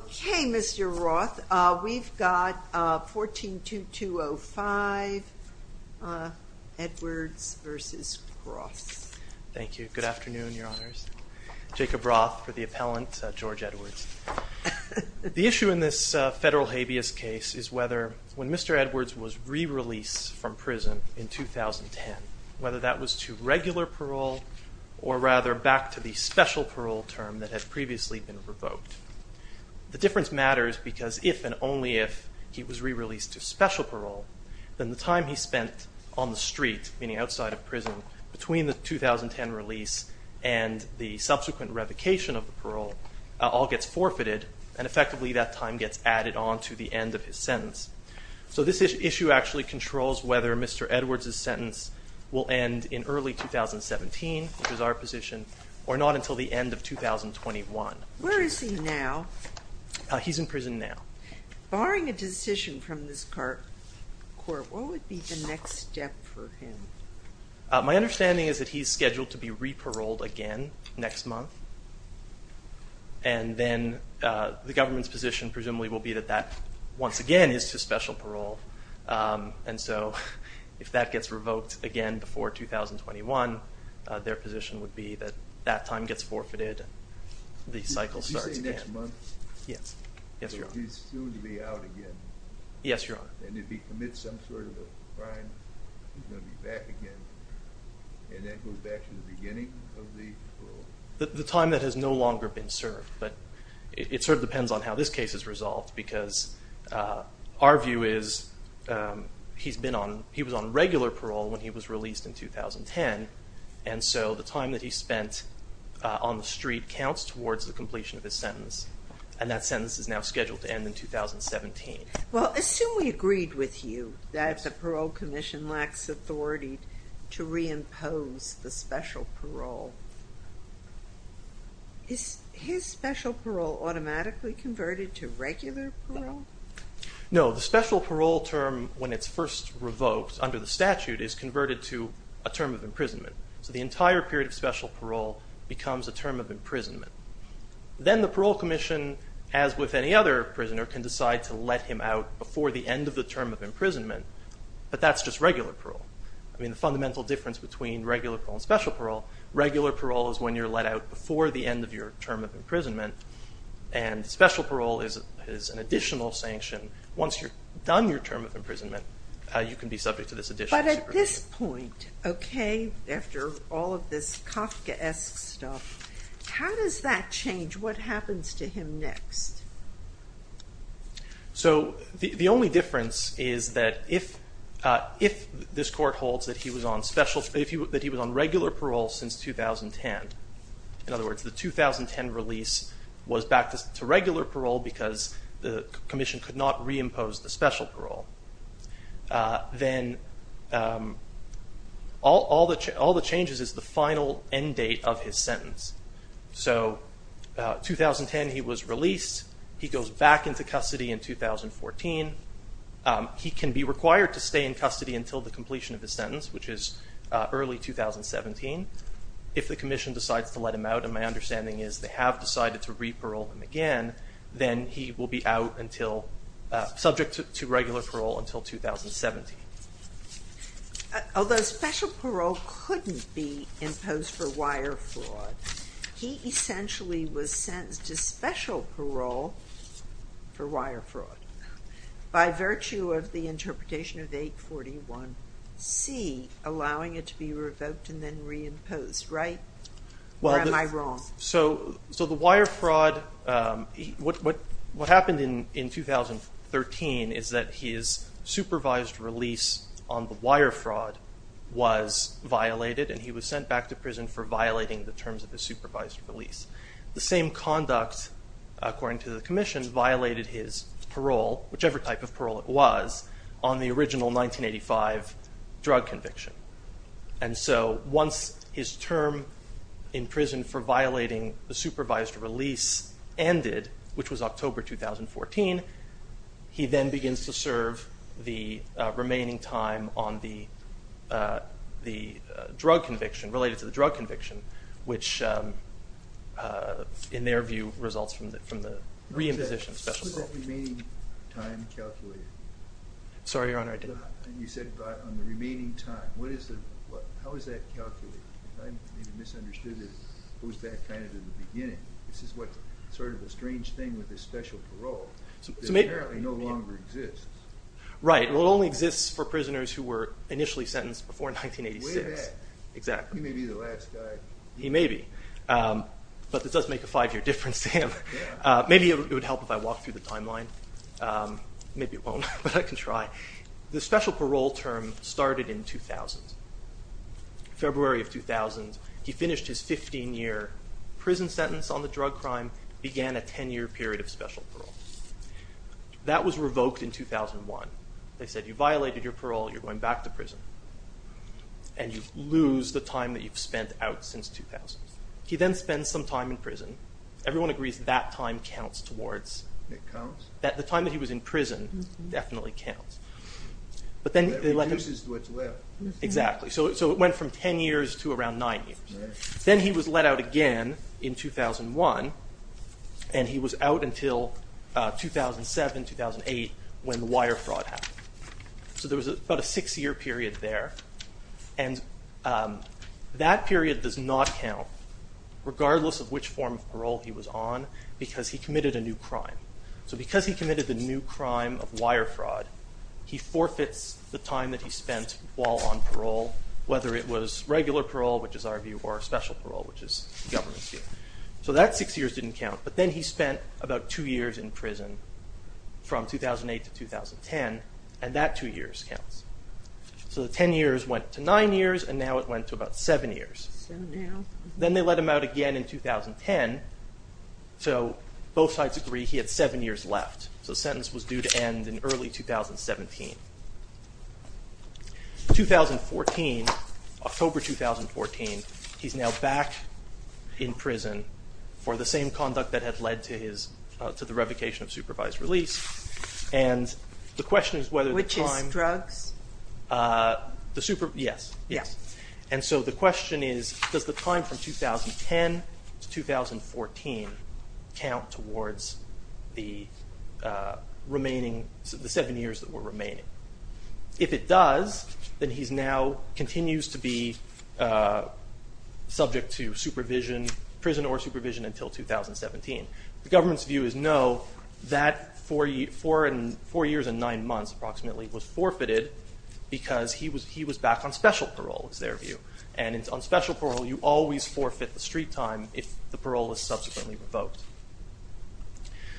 Okay, Mr. Roth, we've got 14-2205, Edwards v. Cross. Thank you. Good afternoon, Your Honors. Jacob Roth for the appellant, George Edwards. The issue in this federal habeas case is whether when Mr. Edwards was re-released from prison in 2010, whether that was to regular parole or rather back to the special parole term that had previously been revoked. The difference matters because if and only if he was re-released to special parole, then the time he spent on the street, meaning outside of prison, between the 2010 release and the subsequent revocation of the parole all gets forfeited and effectively that time gets added on to the end of his sentence. So this issue actually controls whether Mr. Edwards' sentence will end in early 2017, which is our position, or not until the end of 2021. Where is he now? He's in prison now. Barring a decision from this court, what would be the next step for him? My understanding is that he's scheduled to be re-paroled again next month, and then the government's position presumably will be that that once again is to special parole. And so, if that gets revoked again before 2021, their position would be that that time gets forfeited, the cycle starts again. Did you say next month? Yes. Yes, Your Honor. So he's soon to be out again? Yes, Your Honor. And if he commits some sort of a crime, he's going to be back again, and that goes back to the beginning of the parole? The time that has no longer been served, but it sort of depends on how this case is resolved, because our view is he's been on, he was on regular parole when he was released in 2010, and so the time that he spent on the street counts towards the completion of his sentence, and that sentence is now scheduled to end in 2017. Well, assume we agreed with you that the parole commission lacks authority to reimpose the special parole. Is his special parole automatically converted to regular parole? No. The special parole term, when it's first revoked under the statute, is converted to a term of imprisonment. So the entire period of special parole becomes a term of imprisonment. Then the parole commission, as with any other prisoner, can decide to let him out before the end of the term of imprisonment, but that's just regular parole. I mean, the fundamental difference between regular parole and special parole, regular parole is when you're let out before the end of your term of imprisonment, and special parole is an additional sanction. Once you've done your term of imprisonment, you can be subject to this additional supervision. But at this point, okay, after all of this Kafkaesque stuff, how does that change? What happens to him next? So, the only difference is that if this court holds that he was on regular parole since 2010, in other words, the 2010 release was back to regular parole because the commission could not reimpose the special parole, then all the changes is the final end date of his sentence. So 2010, he was released. He goes back into custody in 2014. He can be required to stay in custody until the completion of his sentence, which is early 2017. If the commission decides to let him out, and my understanding is they have decided to re-parole him again, then he will be out until, subject to regular parole until 2017. Okay. Although special parole couldn't be imposed for wire fraud, he essentially was sentenced to special parole for wire fraud by virtue of the interpretation of 841C, allowing it to be revoked and then reimposed, right, or am I wrong? So the wire fraud, what happened in 2013 is that his supervised release on the wire fraud was violated and he was sent back to prison for violating the terms of the supervised release. The same conduct, according to the commission, violated his parole, whichever type of parole it was, on the original 1985 drug conviction. And so once his term in prison for violating the supervised release ended, which was October 2014, he then begins to serve the remaining time on the drug conviction, related to the drug conviction, which, in their view, results from the re-imposition of special parole. What is the remaining time calculated? Sorry, Your Honor, I didn't hear you. You said on the remaining time. What is the, how is that calculated? I may have misunderstood it. It goes back kind of to the beginning. This is what, sort of a strange thing with the special parole that apparently no longer exists. Right. Well, it only exists for prisoners who were initially sentenced before 1986. Way back. Exactly. He may be the last guy. He may be. But this does make a five-year difference to him. Maybe it would help if I walked through the timeline. Maybe it won't, but I can try. The special parole term started in 2000. February of 2000, he finished his 15-year prison sentence on the drug crime, began a 10-year period of special parole. That was revoked in 2001. They said, you violated your parole. You're going back to prison. And you lose the time that you've spent out since 2000. He then spends some time in prison. Everyone agrees that time counts towards... It counts? The time that he was in prison definitely counts. But then... It reduces to what's left. Exactly. So it went from 10 years to around 9 years. Then he was let out again in 2001. And he was out until 2007, 2008, when the wire fraud happened. So there was about a six-year period there. And that period does not count, regardless of which form of parole he was on, because he committed a new crime. So because he committed the new crime of wire fraud, he forfeits the time that he spent while on parole, whether it was regular parole, which is our view, or special parole, which is the government's view. So that six years didn't count. But then he spent about two years in prison from 2008 to 2010. And that two years counts. So the 10 years went to 9 years, and now it went to about 7 years. So now... Then they let him out again in 2010. So both sides agree he had 7 years left. So the sentence was due to end in early 2017. 2014, October 2014, he's now back in prison for the same conduct that had led to the revocation of supervised release. And the question is whether the time... Yes, yes. And so the question is, does the time from 2010 to 2014 count towards the remaining, the 7 years that were remaining? If it does, then he now continues to be subject to supervision, prison or supervision, until 2017. The government's view is no. That 4 years and 9 months, approximately, was forfeited because he was back on special parole, is their view. And on special parole, you always forfeit the street time if the parole was subsequently revoked.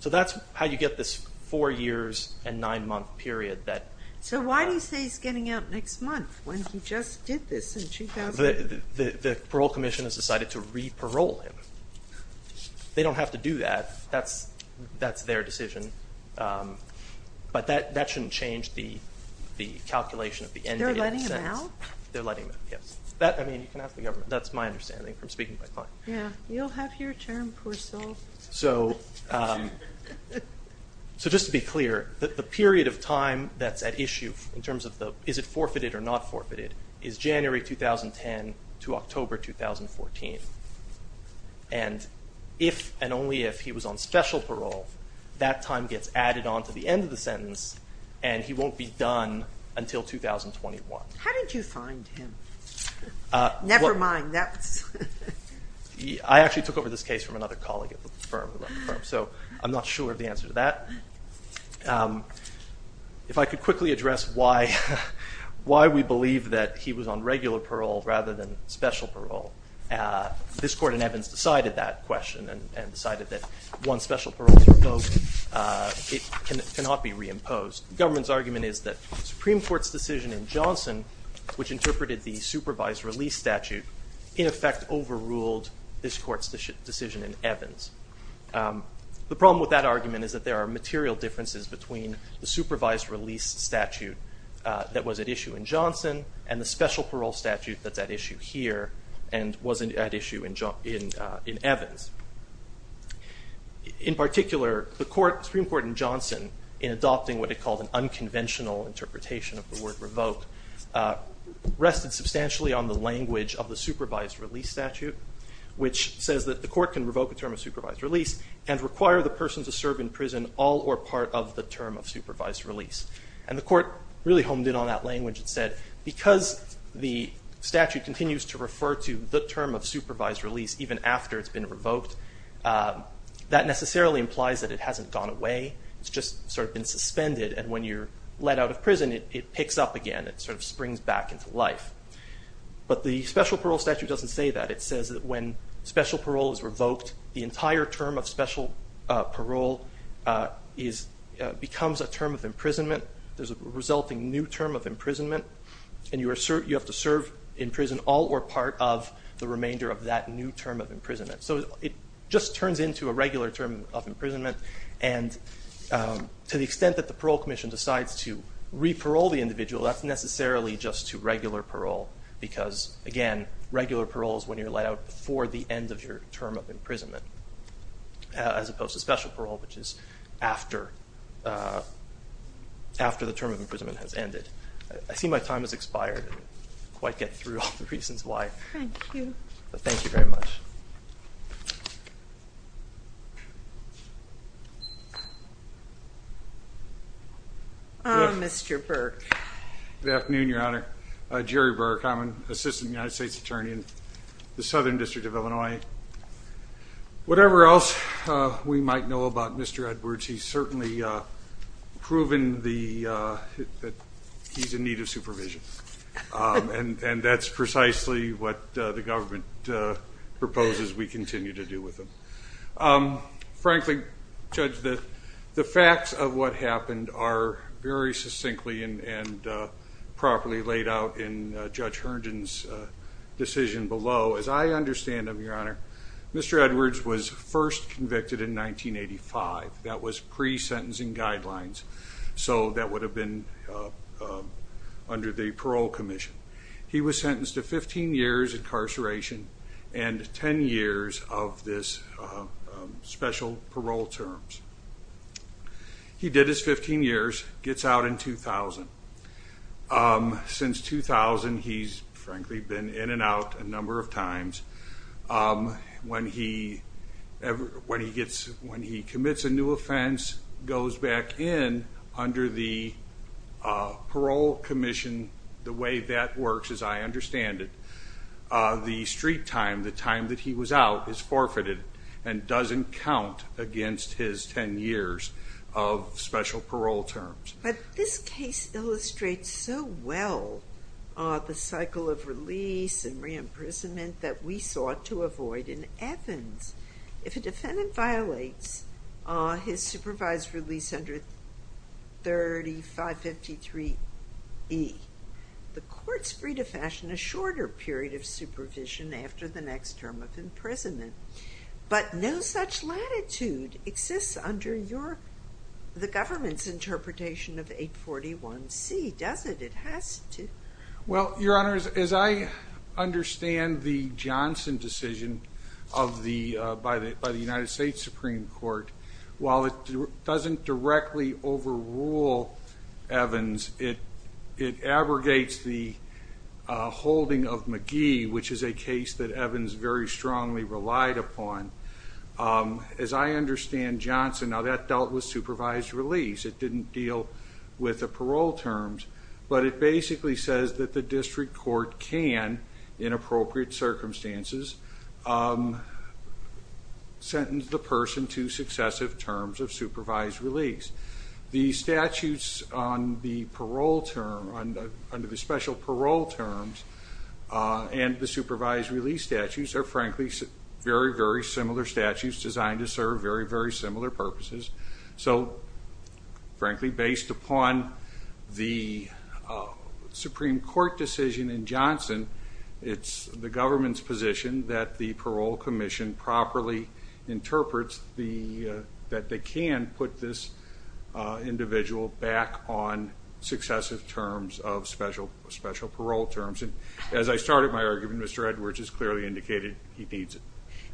So that's how you get this 4 years and 9 month period that... So why do you say he's getting out next month, when he just did this in 2008? The parole commission has decided to re-parole him. They don't have to do that. That's their decision. But that shouldn't change the calculation of the... They're letting him out? They're letting him out, yes. I mean, you can ask the government. That's my understanding from speaking to my client. Yeah, you'll have your turn, poor soul. So just to be clear, the period of time that's at issue in terms of the, is it forfeited or not forfeited, is January 2010 to October 2014. And if and only if he was on special parole, that time gets added on to the end of the sentence and he won't be done until 2021. How did you find him? Never mind, that's... I actually took over this case from another colleague at the firm, so I'm not sure of the answer to that. If I could quickly address why we believe that he was on regular parole rather than special parole. This court in Evans decided that question and decided that once special parole is revoked, it cannot be reimposed. The government's argument is that the Supreme Court's decision in Johnson, which interpreted the supervised release statute, in effect overruled this court's decision in Evans. The problem with that argument is that there are material differences between the supervised release statute that was at issue in Johnson and the special parole statute that's at issue here and was at issue in Evans. In particular, the Supreme Court in Johnson in adopting what it called an unconventional interpretation of the word revoke, rested substantially on the language of the supervised release statute, which says that the court can revoke a term of supervised release and require the person to serve in prison all or part of the term of supervised release. And the court really honed in on that language and said, because the statute continues to refer to the term of supervised release even after it's been revoked, that necessarily implies that it hasn't gone away. It's just sort of been suspended and when you're let out of prison, it picks up again. It sort of springs back into life. But the special parole statute doesn't say that. It says that when special parole is revoked, the entire term of special parole becomes a term of imprisonment. There's a resulting new term of imprisonment. And you have to serve in prison all or part of the remainder of that new term of imprisonment. So it just turns into a regular term of imprisonment. To the extent that the parole commission decides to re-parole the individual, that's necessarily just to regular parole because, again, regular parole is when you're let out before the end of your term of imprisonment, as opposed to special parole, which is after the term of imprisonment has ended. I see my time has expired. I didn't quite get through all the reasons why. Thank you. Thank you very much. Mr. Burke. Good afternoon, Your Honor. Jerry Burke. I'm an assistant United States attorney in the Southern District of Illinois. Whatever else we might know about Mr. Edwards, he's certainly proven that he's in need of supervision. And that's precisely what the government proposes we continue to do with him. Frankly, Judge, the facts of what happened are very succinctly and properly laid out in Judge Herndon's decision below. As I understand them, Your Honor, Mr. Edwards was first convicted in 1985. That was pre-sentencing guidelines, so that would have been under the parole commission. He was sentenced to 15 years incarceration and 10 years of this special parole terms. He did his 15 years, gets out in 2000. Since 2000, he's frankly been in and out a number of times. When he commits a new offense, goes back in under the parole commission, the way that works, as I understand it, the street time, the time that he was out, is forfeited and doesn't count against his 10 years of special parole terms. But this case illustrates so well the cycle of release and re-imprisonment that we sought to avoid in Athens. If a defendant violates his supervised release under 3553E, the court's free to fashion a shorter period of supervision after the next term of imprisonment. But no such latitude exists under the government's interpretation of 841C, does it? It has to. Well, your honors, as I understand the Johnson decision by the United States Supreme Court, while it doesn't directly overrule Evans, it abrogates the holding of McGee, which is a case that Evans very strongly relied upon. As I understand Johnson, now that dealt with supervised release. It didn't deal with the parole terms. But it basically says that the district court can, in appropriate circumstances, sentence the person to successive terms of supervised release. The statutes under the special parole terms and the supervised release statutes are frankly very, very similar statutes designed to serve very, very similar purposes. So, frankly, based upon the Supreme Court decision in Johnson, it's the government's position that the parole commission properly interprets that they can put this individual back on successive terms of special parole terms. As I started my argument, Mr. Edwards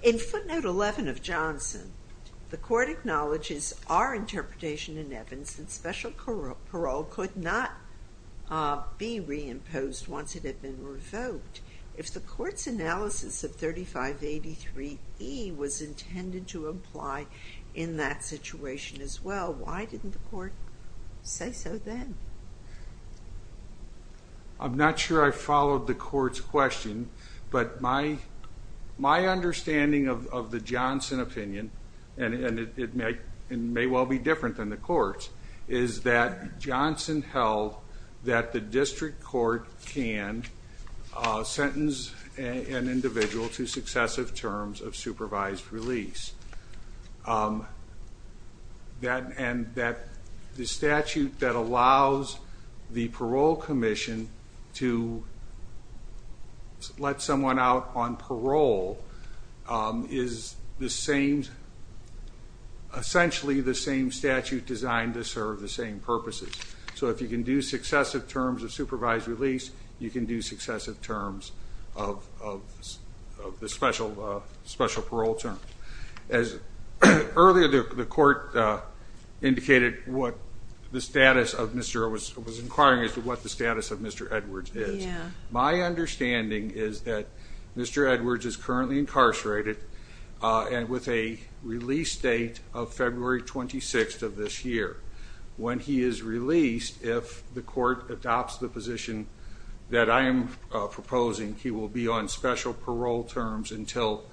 In footnote 11 of Johnson, the court acknowledges our interpretation in Evans that special parole could not be reimposed once it had been revoked. If the court's analysis of 3583E was intended to apply in that situation as well, why didn't the court say so then? I'm not sure I followed the court's question, but my understanding of the Johnson opinion, and it may well be different than the court's, is that Johnson held that the district court can sentence an individual to successive terms of supervised release. And that the statute that allows the parole commission to let someone out on parole is essentially the same statute designed to serve the same purposes. So if you can do successive terms of supervised release, you can do successive terms of the special parole terms. Earlier, the court indicated what the status of Mr. Edwards, was inquiring as to what the status of Mr. Edwards is. My understanding is that Mr. Edwards is currently incarcerated and with a release date of February 26th of this year. When he is released, if the court adopts the position that I am proposing, he will be on special parole terms until,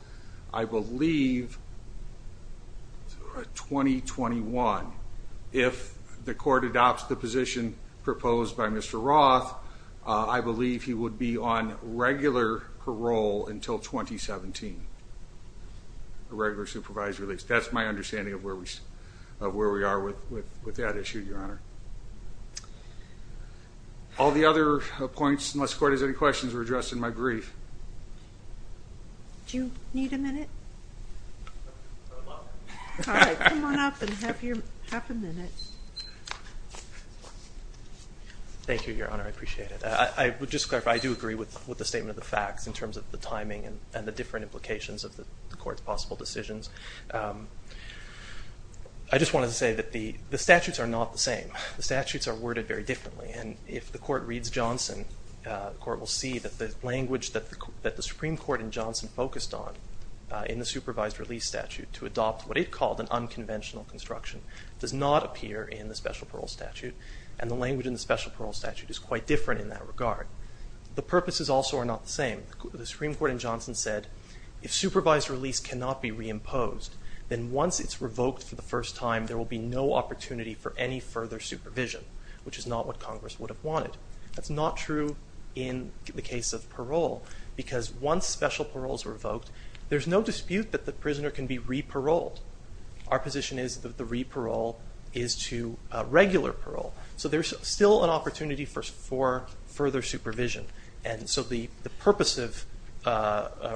I believe, 2021. If the court adopts the position proposed by Mr. Roth, I believe he would be on regular parole until 2017, a regular supervised release. That's my understanding of where we are with that issue, Your Honor. All the other points, unless the court has any questions, Do you need a minute? All right, come on up and have a minute. Thank you, Your Honor, I appreciate it. I would just clarify, I do agree with the statement of the facts in terms of the timing and the different implications of the court's possible decisions. I just wanted to say that the statutes are not the same. The statutes are worded very differently. If the court reads Johnson, the court will see that the language that the Supreme Court in Johnson focused on in the supervised release statute to adopt what it called an unconventional construction does not appear in the special parole statute, and the language in the special parole statute is quite different in that regard. The purposes also are not the same. The Supreme Court in Johnson said, if supervised release cannot be reimposed, then once it's revoked for the first time, there will be no opportunity for any further supervision, which is not what Congress would have wanted. That's not true in the case of parole, because once special parole is revoked, there's no dispute that the prisoner can be re-paroled. Our position is that the re-parole is to regular parole. So there's still an opportunity for further supervision. And so the purpose of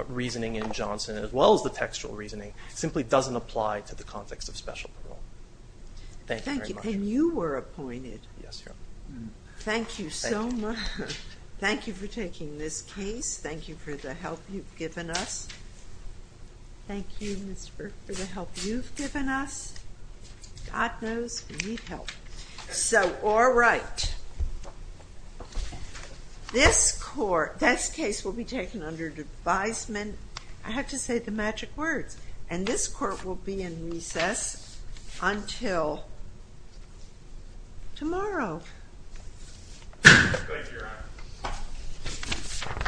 reasoning in Johnson, as well as the textual reasoning, simply doesn't apply to the context of special parole. Thank you very much. And you were appointed. Thank you so much. Thank you for taking this case. Thank you for the help you've given us. Thank you, Mr. Burke, for the help you've given us. God knows we need help. So, all right. This case will be taken under advisement. I have to say the magic words. And this court will be in recess until tomorrow. Thank you, Your Honor.